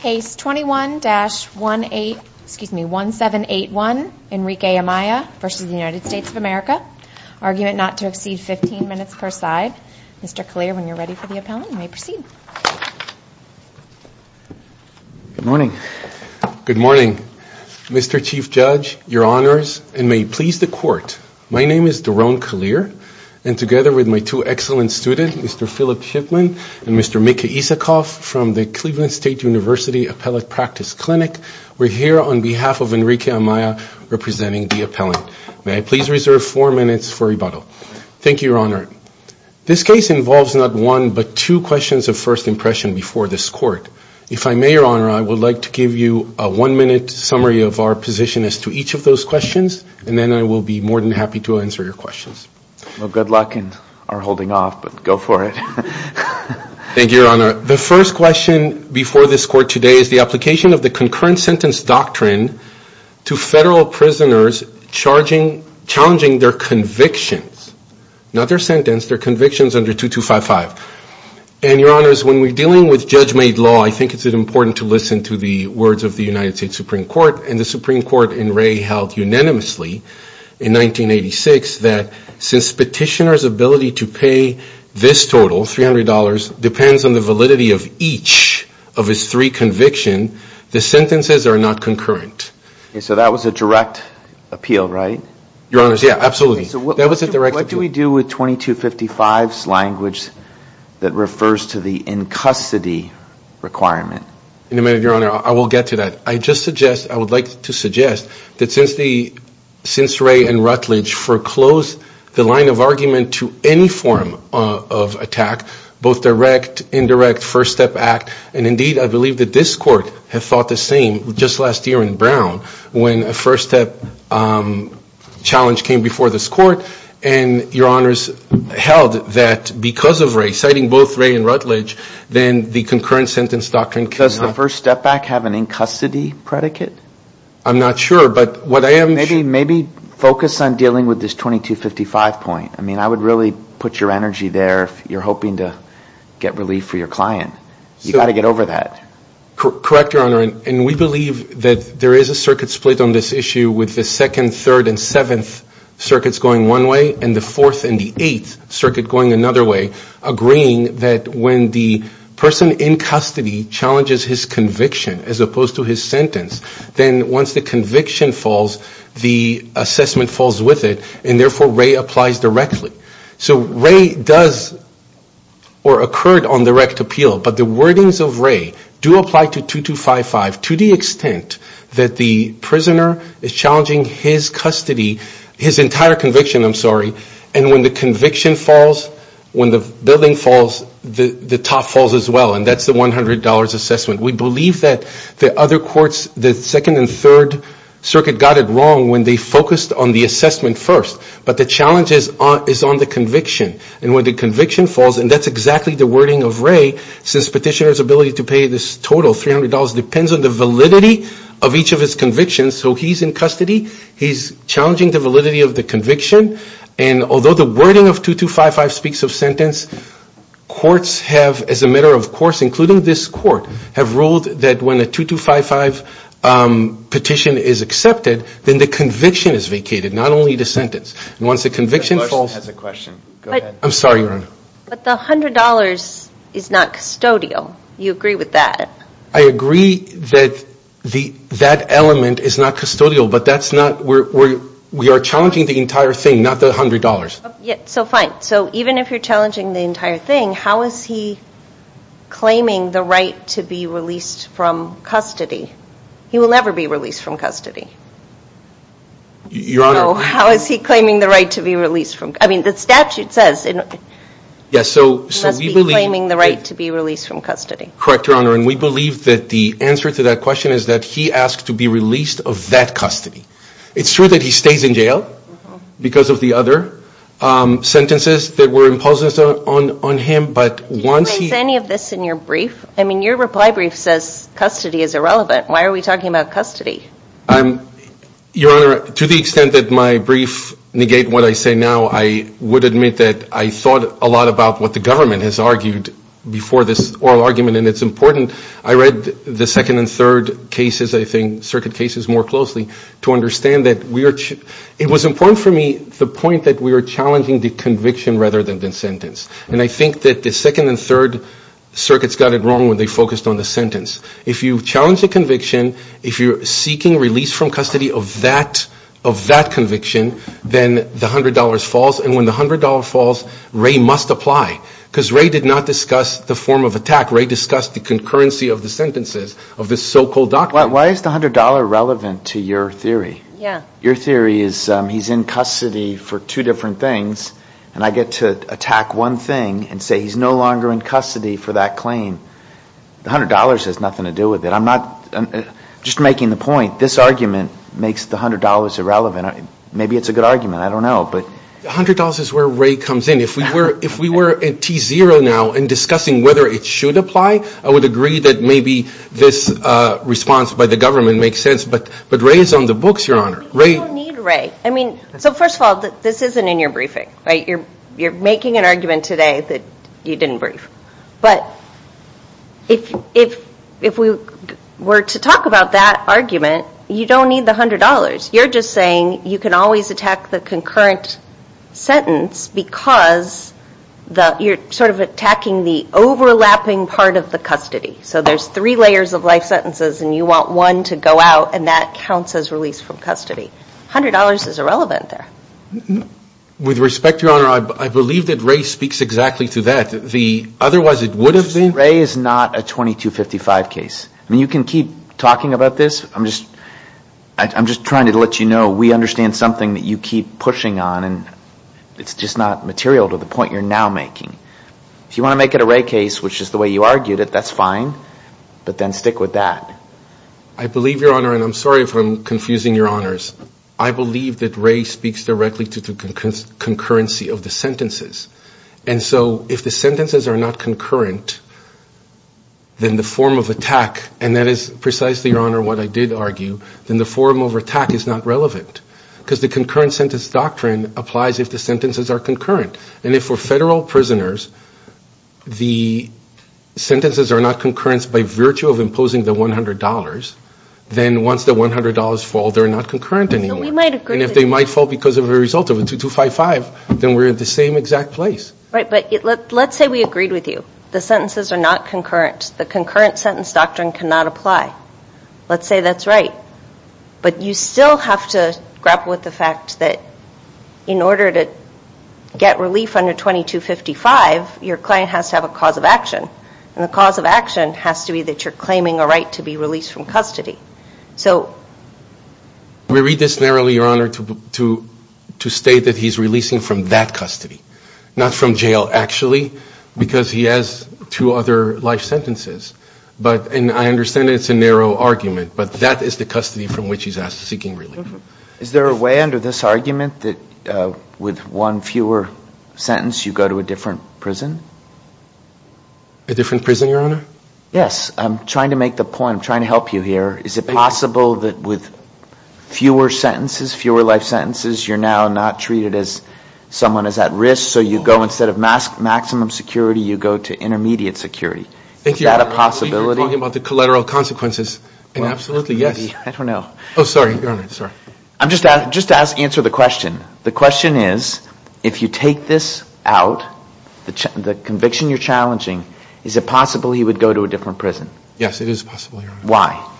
Case 21-1781, Enrique Amaya v. United States of America, argument not to exceed 15 minutes per side. Mr. Kalir, when you're ready for the appellant, you may proceed. Good morning. Good morning, Mr. Chief Judge, Your Honors, and may it please the Court, My name is Daron Kalir, and together with my two excellent students, Mr. Philip Shipman and Mr. Micah Isikoff from the Cleveland State University Appellate Practice Clinic, we're here on behalf of Enrique Amaya representing the appellant. May I please reserve four minutes for rebuttal? Thank you, Your Honor. This case involves not one but two questions of first impression before this Court. If I may, Your Honor, I would like to give you a one-minute summary of our position as to each of those questions, and then I will be more than happy to answer your questions. Well, good luck in our holding off, but go for it. Thank you, Your Honor. The first question before this Court today is the application of the concurrent sentence doctrine to federal prisoners challenging their convictions. Not their sentence, their convictions under 2255. And, Your Honors, when we're dealing with judge-made law, I think it's important to listen to the words of the United States Supreme Court, and the Supreme Court in Ray held unanimously in 1986 that since petitioner's ability to pay this total, $300, depends on the validity of each of his three convictions, the sentences are not concurrent. So that was a direct appeal, right? Your Honors, yeah, absolutely. So what do we do with 2255's language that refers to the in-custody requirement? In a minute, Your Honor, I will get to that. I just suggest, I would like to suggest that since Ray and Rutledge foreclosed the line of argument to any form of attack, both direct, indirect, first-step act, and indeed I believe that this Court had thought the same just last year in Brown when a first-step challenge came before this Court, and Your Honors held that because of Ray, citing both Ray and Rutledge, then the concurrent sentence doctrine cannot be used. Does the first-step act have an in-custody predicate? I'm not sure, but what I am sure. Maybe focus on dealing with this 2255 point. I mean, I would really put your energy there if you're hoping to get relief for your client. You've got to get over that. Correct, Your Honor, and we believe that there is a circuit split on this issue with the 2nd, 3rd, and 7th circuits going one way and the 4th and the 8th circuit going another way, agreeing that when the person in custody challenges his conviction as opposed to his sentence, then once the conviction falls, the assessment falls with it, and therefore Ray applies directly. So Ray does, or occurred on direct appeal, but the wordings of Ray do apply to 2255 to the extent that the prisoner is challenging his custody, his entire conviction, I'm sorry, and when the conviction falls, when the building falls, the top falls as well, and that's the $100 assessment. We believe that the other courts, the 2nd and 3rd circuit got it wrong when they focused on the assessment first, but the challenge is on the conviction, and when the conviction falls, and that's exactly the wording of Ray, since petitioner's ability to pay this total $300 depends on the validity of each of his convictions, so he's in custody, he's challenging the validity of the conviction, and although the wording of 2255 speaks of sentence, courts have, as a matter of course, including this court, have ruled that when a 2255 petition is accepted, then the conviction is vacated, not only the sentence, and once the conviction falls, I'm sorry, Your Honor. But the $100 is not custodial. You agree with that? I agree that that element is not custodial, but that's not, we are challenging the entire thing, not the $100. So fine, so even if you're challenging the entire thing, how is he claiming the right to be released from custody? He will never be released from custody. Your Honor. So how is he claiming the right to be released from, I mean, the statute says he must be claiming the right to be released from custody. Correct, Your Honor, and we believe that the answer to that question is that he asked to be released of that custody. It's true that he stays in jail because of the other sentences that were imposed on him, but once he. Is any of this in your brief? I mean, your reply brief says custody is irrelevant. Why are we talking about custody? Your Honor, to the extent that my brief negate what I say now, I would admit that I thought a lot about what the government has argued before this oral argument, and it's important. I read the second and third cases, I think, circuit cases more closely, to understand that we are, it was important for me the point that we are challenging the conviction rather than the sentence, and I think that the second and third circuits got it wrong when they focused on the sentence. If you challenge a conviction, if you're seeking release from custody of that conviction, then the $100 falls, and when the $100 falls, Ray must apply because Ray did not discuss the form of attack. Ray discussed the concurrency of the sentences of this so-called doctrine. Why is the $100 relevant to your theory? Yeah. Your theory is he's in custody for two different things, and I get to attack one thing and say he's no longer in custody for that claim. The $100 has nothing to do with it. I'm not, just making the point, this argument makes the $100 irrelevant. Maybe it's a good argument. I don't know. But $100 is where Ray comes in. If we were at T-0 now and discussing whether it should apply, I would agree that maybe this response by the government makes sense. But Ray is on the books, Your Honor. You don't need Ray. I mean, so first of all, this isn't in your briefing, right? You're making an argument today that you didn't brief. But if we were to talk about that argument, you don't need the $100. You're just saying you can always attack the concurrent sentence because you're sort of attacking the overlapping part of the custody. So there's three layers of life sentences, and you want one to go out, and that counts as release from custody. $100 is irrelevant there. With respect, Your Honor, I believe that Ray speaks exactly to that. Otherwise, it would have been. Ray is not a 2255 case. I mean, you can keep talking about this. I'm just trying to let you know we understand something that you keep pushing on, and it's just not material to the point you're now making. If you want to make it a Ray case, which is the way you argued it, that's fine, but then stick with that. I believe, Your Honor, and I'm sorry if I'm confusing Your Honors. I believe that Ray speaks directly to the concurrency of the sentences. And so if the sentences are not concurrent, then the form of attack, and that is precisely, Your Honor, what I did argue, then the form of attack is not relevant because the concurrent sentence doctrine applies if the sentences are concurrent. And if for federal prisoners the sentences are not concurrent by virtue of imposing the $100, then once the $100 fall, they're not concurrent anymore. And if they might fall because of a result of a 2255, then we're at the same exact place. Right, but let's say we agreed with you. The sentences are not concurrent. The concurrent sentence doctrine cannot apply. Let's say that's right. But you still have to grapple with the fact that in order to get relief under 2255, your client has to have a cause of action. And the cause of action has to be that you're claiming a right to be released from custody. So we read this narrowly, Your Honor, to state that he's releasing from that custody, not from jail actually, because he has two other life sentences. And I understand it's a narrow argument, but that is the custody from which he's seeking relief. Is there a way under this argument that with one fewer sentence you go to a different prison? A different prison, Your Honor? Yes. I'm trying to make the point. I'm trying to help you here. Is it possible that with fewer sentences, fewer life sentences, you're now not treated as someone who's at risk, so you go instead of maximum security, you go to intermediate security? Thank you, Your Honor. Is that a possibility? You're talking about the collateral consequences, and absolutely, yes. I don't know. Oh, sorry, Your Honor. Sorry. Just to answer the question, the question is if you take this out, the conviction you're challenging, is it possible he would go to a different prison? Yes, it is possible, Your Honor. Why?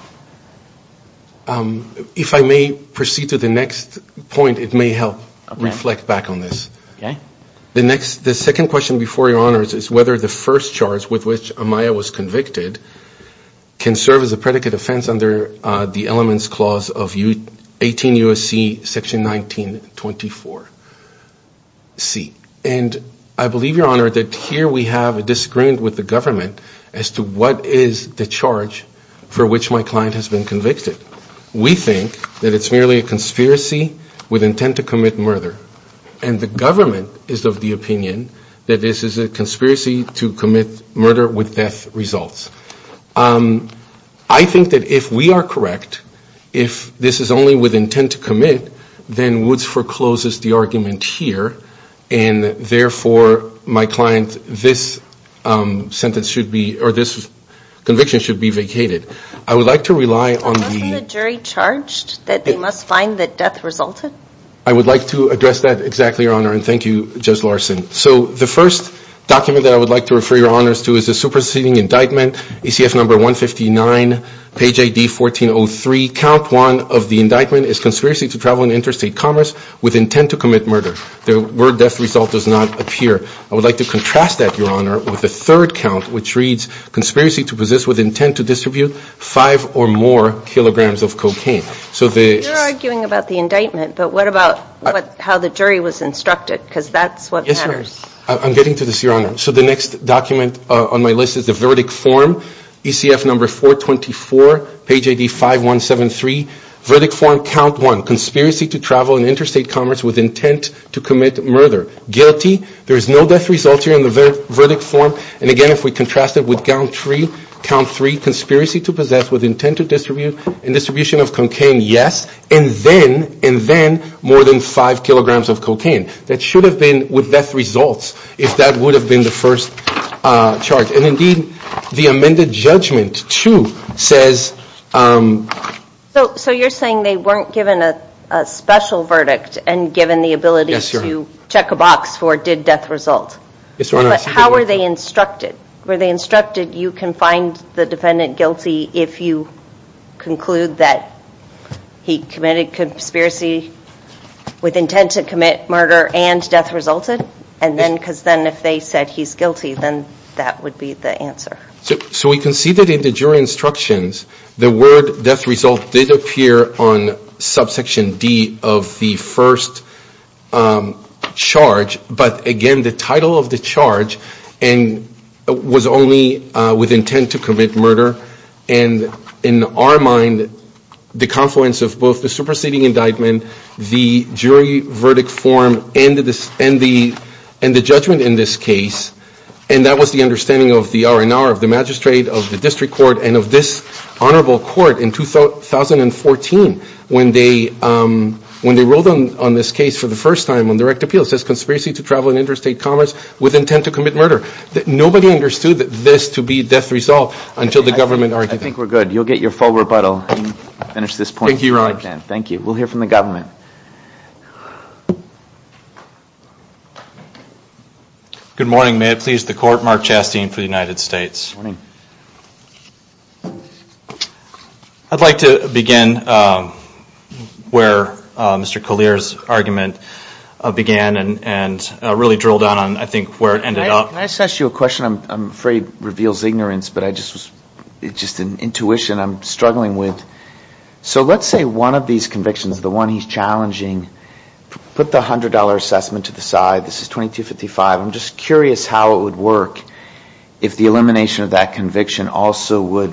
If I may proceed to the next point, it may help reflect back on this. Okay. The second question before you, Your Honor, is whether the first charge with which Amaya was convicted can serve as a predicate offense under the Elements Clause of 18 U.S.C. Section 1924C. And I believe, Your Honor, that here we have a disagreement with the government as to what is the charge for which my client has been convicted. We think that it's merely a conspiracy with intent to commit murder. And the government is of the opinion that this is a conspiracy to commit murder with death results. I think that if we are correct, if this is only with intent to commit, then Woods forecloses the argument here. And therefore, my client, this conviction should be vacated. I would like to rely on the – Unless the jury charged that they must find that death resulted. I would like to address that exactly, Your Honor, and thank you, Judge Larson. So the first document that I would like to refer Your Honors to is the superseding indictment, ECF number 159, page ID 1403. Count one of the indictment is conspiracy to travel in interstate commerce with intent to commit murder. The word death result does not appear. I would like to contrast that, Your Honor, with the third count, which reads conspiracy to possess with intent to distribute five or more kilograms of cocaine. You're arguing about the indictment, but what about how the jury was instructed? Because that's what matters. I'm getting to this, Your Honor. So the next document on my list is the verdict form, ECF number 424, page ID 5173. Verdict form, count one, conspiracy to travel in interstate commerce with intent to commit murder. Guilty. There is no death result here in the verdict form. And again, if we contrast it with count three, conspiracy to possess with intent to distribute and distribution of cocaine, yes, and then more than five kilograms of cocaine. That should have been with death results if that would have been the first charge. And indeed, the amended judgment, too, says. So you're saying they weren't given a special verdict and given the ability to check a box for did death result? Yes, Your Honor. But how were they instructed? Were they instructed you can find the defendant guilty if you conclude that he committed conspiracy with intent to commit murder and death resulted? And then because then if they said he's guilty, then that would be the answer. So we can see that in the jury instructions, the word death result did appear on subsection D of the first charge. But, again, the title of the charge was only with intent to commit murder. And in our mind, the confluence of both the superseding indictment, the jury verdict form, and the judgment in this case, and that was the understanding of the R&R of the magistrate, of the district court, and of this honorable court in 2014 when they wrote on this case for the first time on direct appeal, it says conspiracy to travel in interstate commerce with intent to commit murder. Nobody understood this to be death result until the government argued it. I think we're good. You'll get your full rebuttal when we finish this point. Thank you, Your Honor. Thank you. We'll hear from the government. Good morning. May it please the Court, Mark Chastain for the United States. Good morning. I'd like to begin where Mr. Collier's argument began and really drill down on, I think, where it ended up. Can I just ask you a question? I'm afraid it reveals ignorance, but it's just an intuition I'm struggling with. So let's say one of these convictions, the one he's challenging, put the $100 assessment to the side. This is 2255. I'm just curious how it would work if the elimination of that conviction also would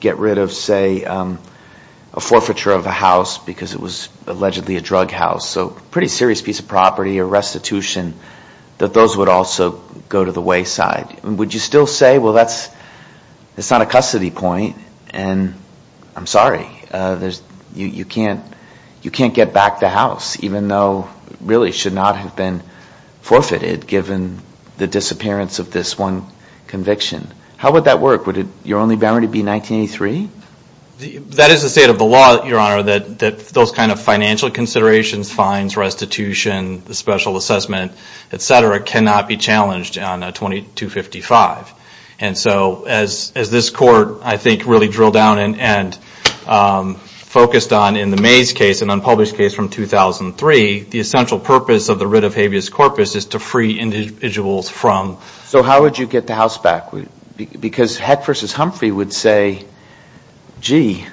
get rid of, say, a forfeiture of a house because it was allegedly a drug house, so a pretty serious piece of property, a restitution, that those would also go to the wayside. Would you still say, well, that's not a custody point, and I'm sorry. You can't get back the house, even though it really should not have been forfeited, given the disappearance of this one conviction. How would that work? Would your only boundary be 1983? That is the state of the law, Your Honor, that those kind of financial considerations, fines, restitution, the special assessment, et cetera, cannot be challenged on 2255. And so as this Court, I think, really drilled down and focused on in the Mays case, an unpublished case from 2003, the essential purpose of the writ of habeas corpus is to free individuals from... So how would you get the house back? Because Heck v. Humphrey would say, gee,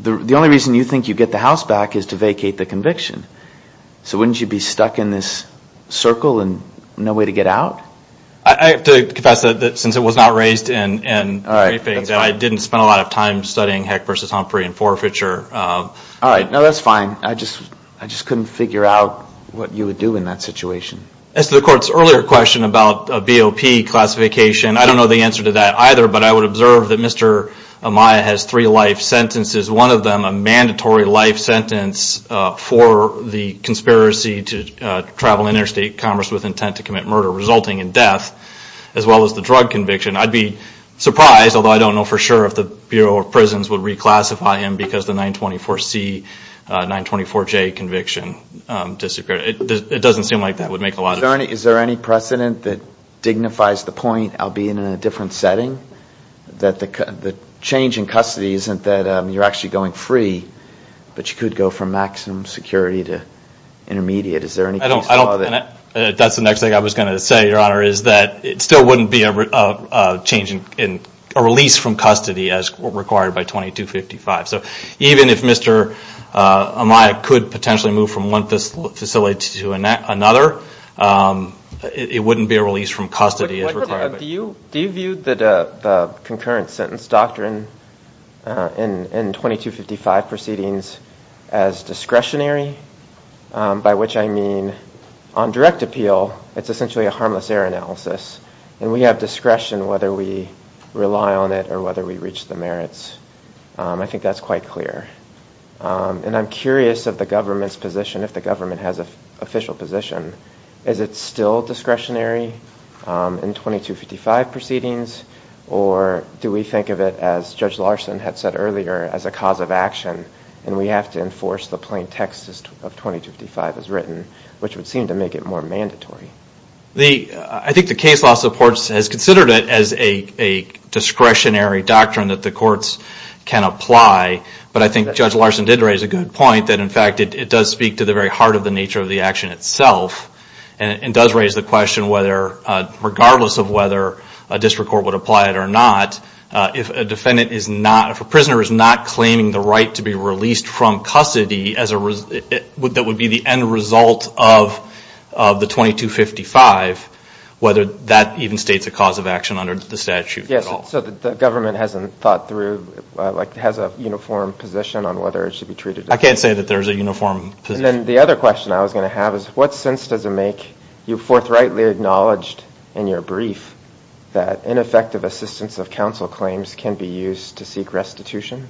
the only reason you think you get the house back is to vacate the conviction. So wouldn't you be stuck in this circle and no way to get out? I have to confess that since it was not raised in the briefings, I didn't spend a lot of time studying Heck v. Humphrey and forfeiture. All right. No, that's fine. I just couldn't figure out what you would do in that situation. As to the Court's earlier question about a BOP classification, I don't know the answer to that either, but I would observe that Mr. Amaya has three life sentences, one of them a mandatory life sentence for the conspiracy to travel interstate commerce with intent to commit murder resulting in death, as well as the drug conviction. I'd be surprised, although I don't know for sure if the Bureau of Prisons would reclassify him because the 924C, 924J conviction disappeared. It doesn't seem like that would make a lot of sense. Is there any precedent that dignifies the point, I'll be in a different setting, that the change in custody isn't that you're actually going free, but you could go from maximum security to intermediate? Is there any case law that… That's the next thing I was going to say, Your Honor, is that it still wouldn't be a release from custody as required by 2255. So even if Mr. Amaya could potentially move from one facility to another, it wouldn't be a release from custody as required. Do you view the concurrent sentence doctrine in 2255 proceedings as discretionary? By which I mean on direct appeal, it's essentially a harmless error analysis, and we have discretion whether we rely on it or whether we reach the merits. I think that's quite clear. And I'm curious of the government's position, if the government has an official position, is it still discretionary in 2255 proceedings? Or do we think of it, as Judge Larson had said earlier, as a cause of action, and we have to enforce the plain text of 2255 as written, which would seem to make it more mandatory? I think the case law supports, has considered it as a discretionary doctrine that the courts can apply, but I think Judge Larson did raise a good point that, in fact, it does speak to the very heart of the nature of the action itself, and does raise the question whether, regardless of whether a district court would apply it or not, if a defendant is not, if a prisoner is not claiming the right to be released from custody, that would be the end result of the 2255, whether that even states a cause of action under the statute at all. Yes, so the government hasn't thought through, like, has a uniform position on whether it should be treated? I can't say that there's a uniform position. And then the other question I was going to have is, what sense does it make, you've forthrightly acknowledged in your brief, that ineffective assistance of counsel claims can be used to seek restitution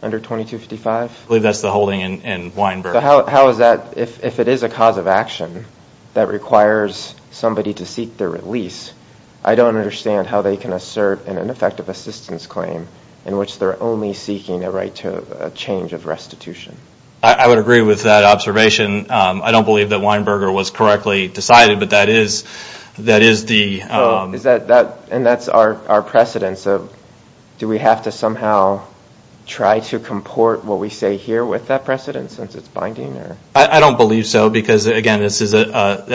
under 2255? I believe that's the holding in Weinberg. How is that, if it is a cause of action that requires somebody to seek their release, I don't understand how they can assert an ineffective assistance claim in which they're only seeking a right to a change of restitution. I would agree with that observation. I don't believe that Weinberger was correctly decided, but that is the... And that's our precedence. Do we have to somehow try to comport what we say here with that precedence since it's binding? I don't believe so because, again, that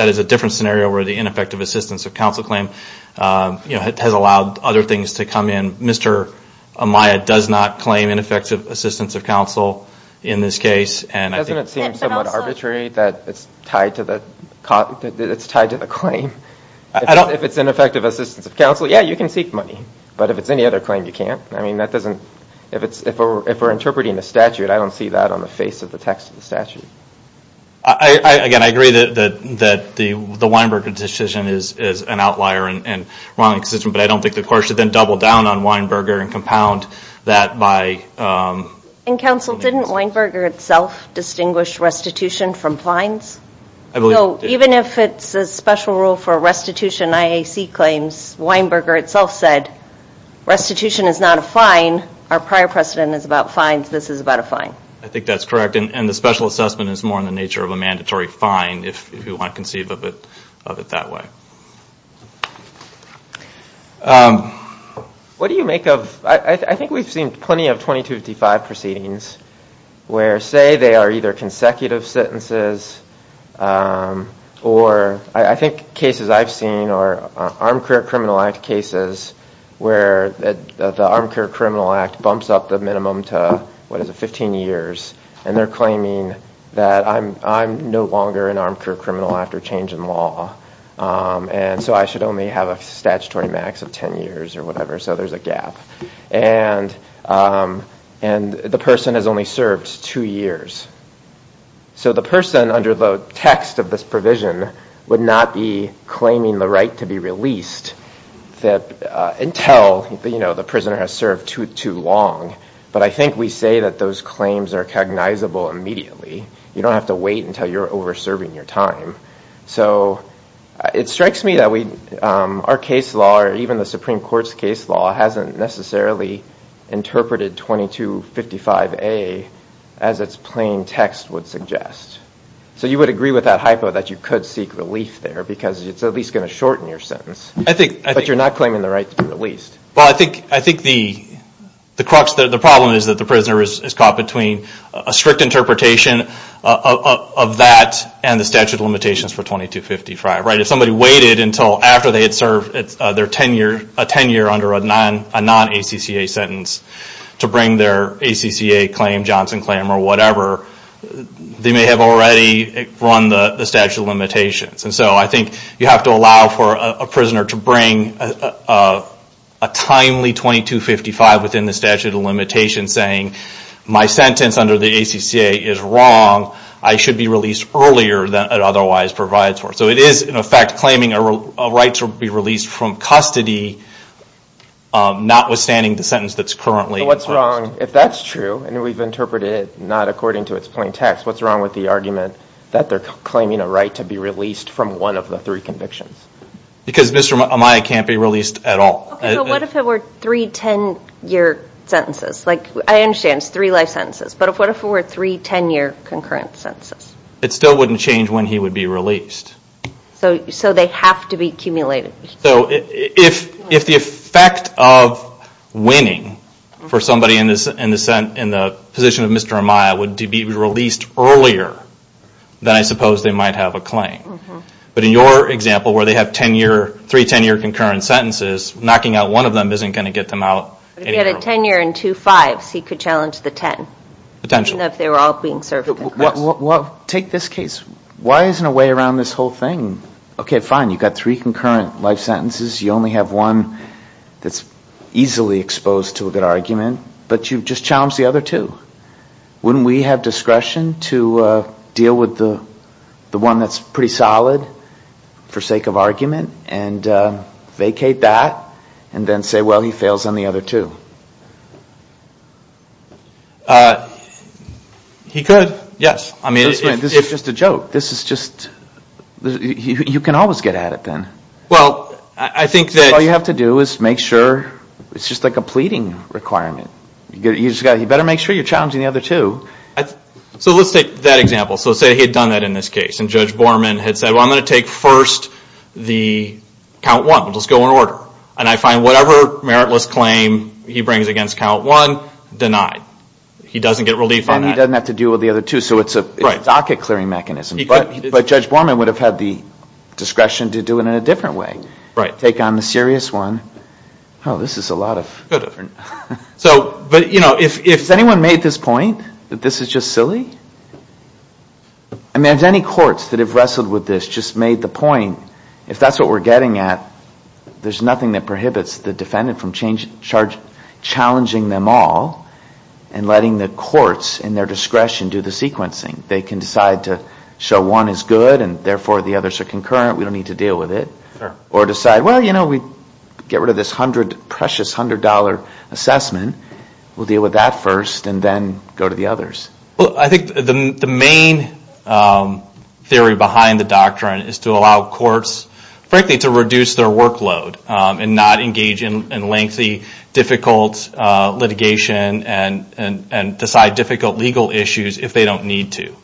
is a different scenario where the ineffective assistance of counsel claim has allowed other things to come in. Mr. Amaya does not claim ineffective assistance of counsel in this case. Doesn't it seem somewhat arbitrary that it's tied to the claim? If it's ineffective assistance of counsel, yeah, you can seek money. But if it's any other claim, you can't. If we're interpreting a statute, I don't see that on the face of the text of the statute. Again, I agree that the Weinberger decision is an outlier and wrong decision, but I don't think the court should then double down on Weinberger and compound that by... And, counsel, didn't Weinberger itself distinguish restitution from fines? Even if it's a special rule for restitution IAC claims, Weinberger itself said, restitution is not a fine. Our prior precedent is about fines. This is about a fine. I think that's correct. And the special assessment is more in the nature of a mandatory fine if you want to conceive of it that way. What do you make of... I think we've seen plenty of 2255 proceedings where, say, they are either consecutive sentences or I think cases I've seen are Armed Career Criminal Act cases where the Armed Career Criminal Act bumps up the minimum to, what is it, 15 years, and they're claiming that I'm no longer an armed career criminal after change in law and so I should only have a statutory max of 10 years or whatever, so there's a gap. And the person has only served two years. So the person under the text of this provision would not be claiming the right to be released until the prisoner has served too long. But I think we say that those claims are cognizable immediately. You don't have to wait until you're over serving your time. So it strikes me that our case law or even the Supreme Court's case law hasn't necessarily interpreted 2255A as its plain text would suggest. So you would agree with that hypo that you could seek relief there because it's at least going to shorten your sentence. But you're not claiming the right to be released. Well, I think the problem is that the prisoner is caught between a strict interpretation of that and the statute of limitations for 2255. If somebody waited until after they had served their tenure under a non-ACCA sentence to bring their ACCA claim, Johnson claim, or whatever, you have to allow for a prisoner to bring a timely 2255 within the statute of limitations saying my sentence under the ACCA is wrong. I should be released earlier than it otherwise provides for. So it is, in effect, claiming a right to be released from custody, notwithstanding the sentence that's currently in place. If that's true, and we've interpreted it not according to its plain text, what's wrong with the argument that they're claiming a right to be released from one of the three convictions? Because Mr. Amaya can't be released at all. So what if it were three 10-year sentences? I understand it's three life sentences, but what if it were three 10-year concurrent sentences? It still wouldn't change when he would be released. So they have to be accumulated. So if the effect of winning for somebody in the position of Mr. Amaya would be to be released earlier, then I suppose they might have a claim. But in your example where they have three 10-year concurrent sentences, knocking out one of them isn't going to get them out. If he had a 10-year and two fives, he could challenge the 10. Potentially. Even if they were all being served concurrently. Take this case. Why isn't there a way around this whole thing? Okay, fine, you've got three concurrent life sentences. You only have one that's easily exposed to a good argument, but you've just challenged the other two. Wouldn't we have discretion to deal with the one that's pretty solid for sake of argument and vacate that and then say, well, he fails on the other two? He could, yes. This is just a joke. You can always get at it then. All you have to do is make sure, it's just like a pleading requirement. You better make sure you're challenging the other two. So let's take that example. So say he had done that in this case, and Judge Borman had said, well, I'm going to take first the count one, we'll just go in order. And I find whatever meritless claim he brings against count one denied. He doesn't get relief on that. And he doesn't have to deal with the other two, so it's a docket clearing mechanism. But Judge Borman would have had the discretion to do it in a different way. Take on the serious one. Oh, this is a lot of... So, but, you know, has anyone made this point that this is just silly? I mean, have any courts that have wrestled with this just made the point, if that's what we're getting at, there's nothing that prohibits the defendant from challenging them all and letting the courts in their discretion do the sequencing. They can decide to show one is good and, therefore, the others are concurrent. We don't need to deal with it. Or decide, well, you know, we get rid of this precious $100 assessment. We'll deal with that first and then go to the others. Well, I think the main theory behind the doctrine is to allow courts, frankly, to reduce their workload and not engage in lengthy, difficult litigation and decide difficult legal issues if they don't need to.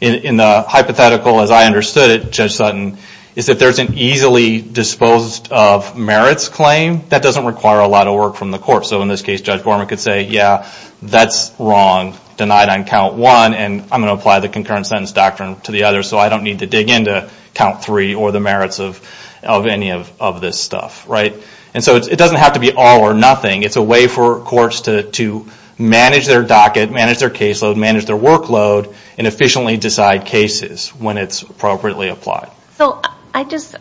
In the hypothetical, as I understood it, Judge Sutton, is if there's an easily disposed of merits claim, that doesn't require a lot of work from the court. So, in this case, Judge Borman could say, yeah, that's wrong, denied on count one, and I'm going to apply the concurrent sentence doctrine to the others, so I don't need to dig into count three or the merits of any of this stuff, right? And so it doesn't have to be all or nothing. It's a way for courts to manage their docket, manage their caseload, manage their workload, and efficiently decide cases when it's appropriately applied. So, I guess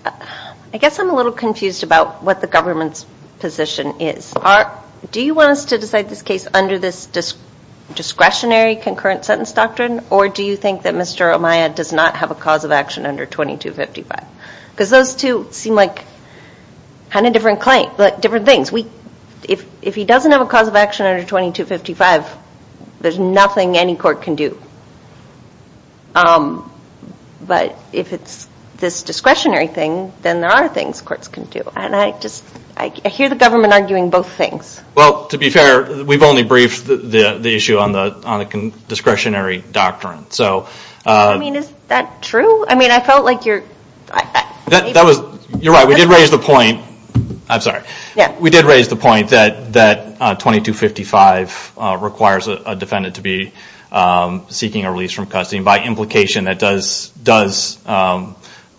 I'm a little confused about what the government's position is. Do you want us to decide this case under this discretionary concurrent sentence doctrine, or do you think that Mr. Amaya does not have a cause of action under 2255? Because those two seem like kind of different things. If he doesn't have a cause of action under 2255, there's nothing any court can do. But if it's this discretionary thing, then there are things courts can do, and I hear the government arguing both things. Well, to be fair, we've only briefed the issue on the discretionary doctrine. I mean, is that true? I mean, I felt like you're… You're right. We did raise the point. I'm sorry. We did raise the point that 2255 requires a defendant to be seeking a release from custody by implication that does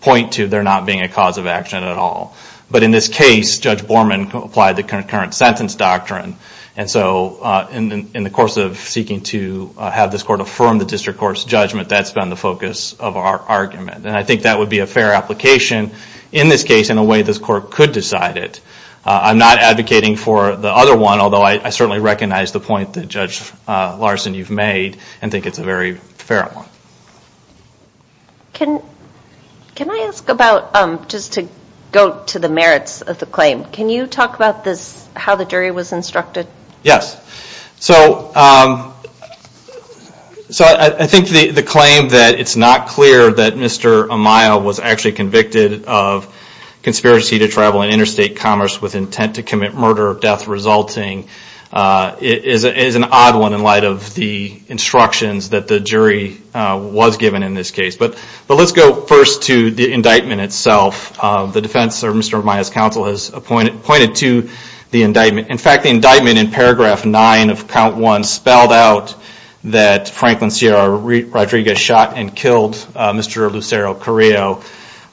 point to there not being a cause of action at all. But in this case, Judge Borman applied the concurrent sentence doctrine, and so in the course of seeking to have this court affirm the district court's judgment, that's been the focus of our argument. And I think that would be a fair application in this case in a way this court could decide it. I'm not advocating for the other one, although I certainly recognize the point that, Judge Larson, you've made and think it's a very fair one. Can I ask about, just to go to the merits of the claim, can you talk about how the jury was instructed? Yes. So I think the claim that it's not clear that Mr. Amaya was actually convicted of conspiracy to travel in interstate commerce with intent to commit murder or death resulting is an odd one in light of the instructions that the jury was given in this case. But let's go first to the indictment itself. The defense, or Mr. Amaya's counsel, has pointed to the indictment. In fact, the indictment in paragraph nine of count one spelled out that Franklin C.R. Rodriguez shot and killed Mr. Lucero Carrillo,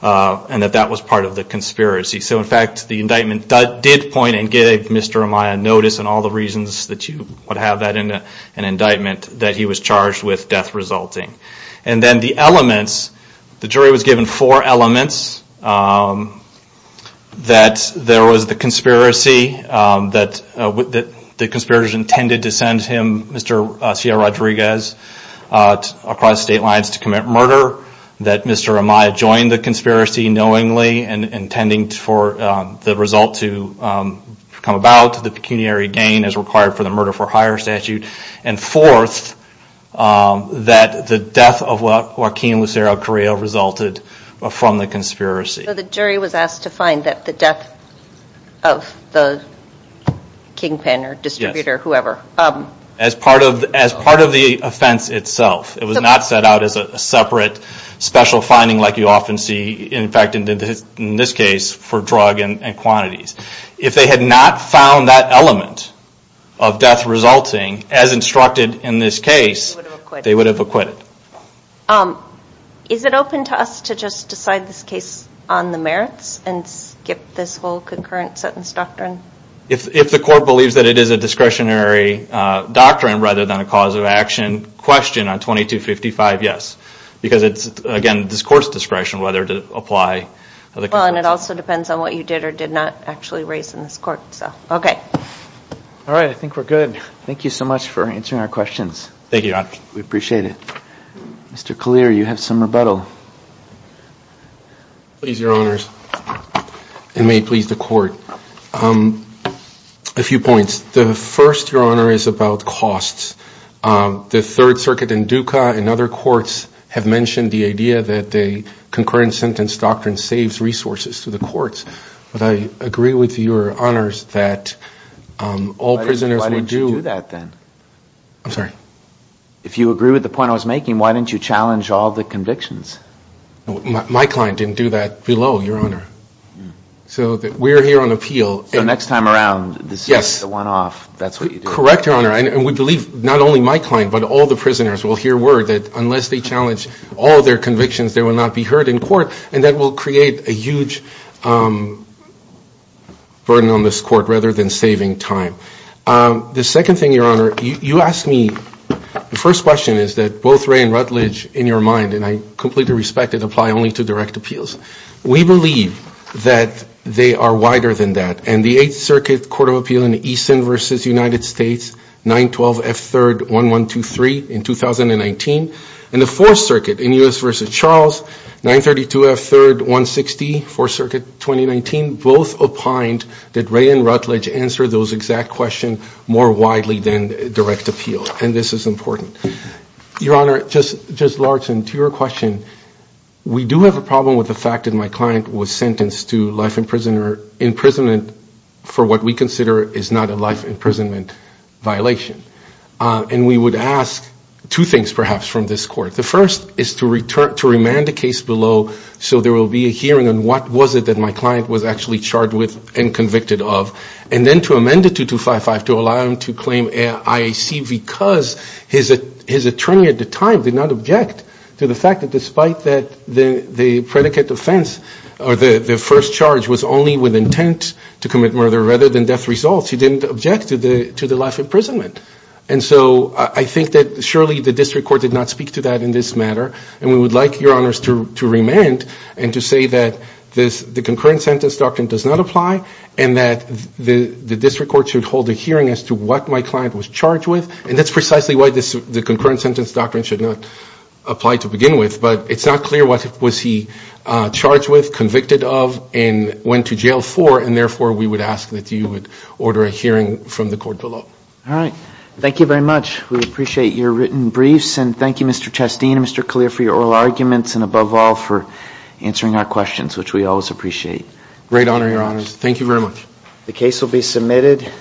and that that was part of the conspiracy. So in fact, the indictment did point and gave Mr. Amaya notice on all the reasons that you would have that in an indictment that he was charged with death resulting. And then the elements, the jury was given four elements, that there was the conspiracy, that the conspirators intended to send him, Mr. C.R. Rodriguez, across state lines to commit murder, that Mr. Amaya joined the conspiracy knowingly and intending for the result to come about, the pecuniary gain as required for the murder for hire statute, and fourth, that the death of Joaquin Lucero Carrillo resulted from the conspiracy. So the jury was asked to find that the death of the kingpin or distributor, whoever. As part of the offense itself. It was not set out as a separate special finding like you often see, in fact, in this case, for drug and quantities. If they had not found that element of death resulting, as instructed in this case, they would have acquitted. Is it open to us to just decide this case on the merits and skip this whole concurrent sentence doctrine? If the court believes that it is a discretionary doctrine rather than a cause of action question on 2255, yes. Because it's, again, this court's discretion whether to apply. Well, and it also depends on what you did or did not actually raise in this court. All right, I think we're good. Thank you so much for answering our questions. Thank you. We appreciate it. Mr. Kalir, you have some rebuttal. Please, Your Honors, and may it please the court. A few points. The first, Your Honor, is about costs. The Third Circuit and DUCA and other courts have mentioned the idea that the concurrent sentence doctrine saves resources to the courts. But I agree with Your Honors that all prisoners would do. I'm sorry? If you agree with the point I was making, why didn't you challenge all the convictions? My client didn't do that below, Your Honor. So we're here on appeal. So next time around, the one-off, that's what you do? Correct, Your Honor, and we believe not only my client but all the prisoners will hear word that unless they challenge all their convictions, they will not be heard in court, and that will create a huge burden on this court rather than saving time. The second thing, Your Honor, you asked me, the first question is that both Wray and Rutledge, in your mind, and I completely respect it, apply only to direct appeals. We believe that they are wider than that. And the Eighth Circuit Court of Appeal in Easton v. United States, 9-12-F-3-1-1-2-3 in 2019, and the Fourth Circuit in U.S. v. Charles, 9-32-F-3-1-6-D, Fourth Circuit, 2019, both opined that Wray and Rutledge answer those exact questions more widely than direct appeals, and this is important. Your Honor, Judge Larson, to your question, we do have a problem with the fact that my client was sentenced to life imprisonment for what we consider is not a life imprisonment violation. And we would ask two things, perhaps, from this court. The first is to remand the case below so there will be a hearing on what was it that my client was actually charged with and convicted of, and then to amend it to 255 to allow him to claim IAC because his attorney at the time did not object to the fact that, despite that the predicate offense or the first charge was only with intent to commit murder rather than death results, he didn't object to the life imprisonment. And so I think that surely the district court did not speak to that in this matter, and we would like your Honors to remand and to say that the concurrent sentence doctrine does not apply and that the district court should hold a hearing as to what my client was charged with, and that's precisely why the concurrent sentence doctrine should not apply to begin with, but it's not clear what was he charged with, convicted of, and went to jail for, and therefore we would ask that you would order a hearing from the court below. All right. Thank you very much. We appreciate your written briefs, and thank you, Mr. Chastin and Mr. Kalir, for your oral arguments and, above all, for answering our questions, which we always appreciate. Great honor, Your Honors. Thank you very much. The case will be submitted.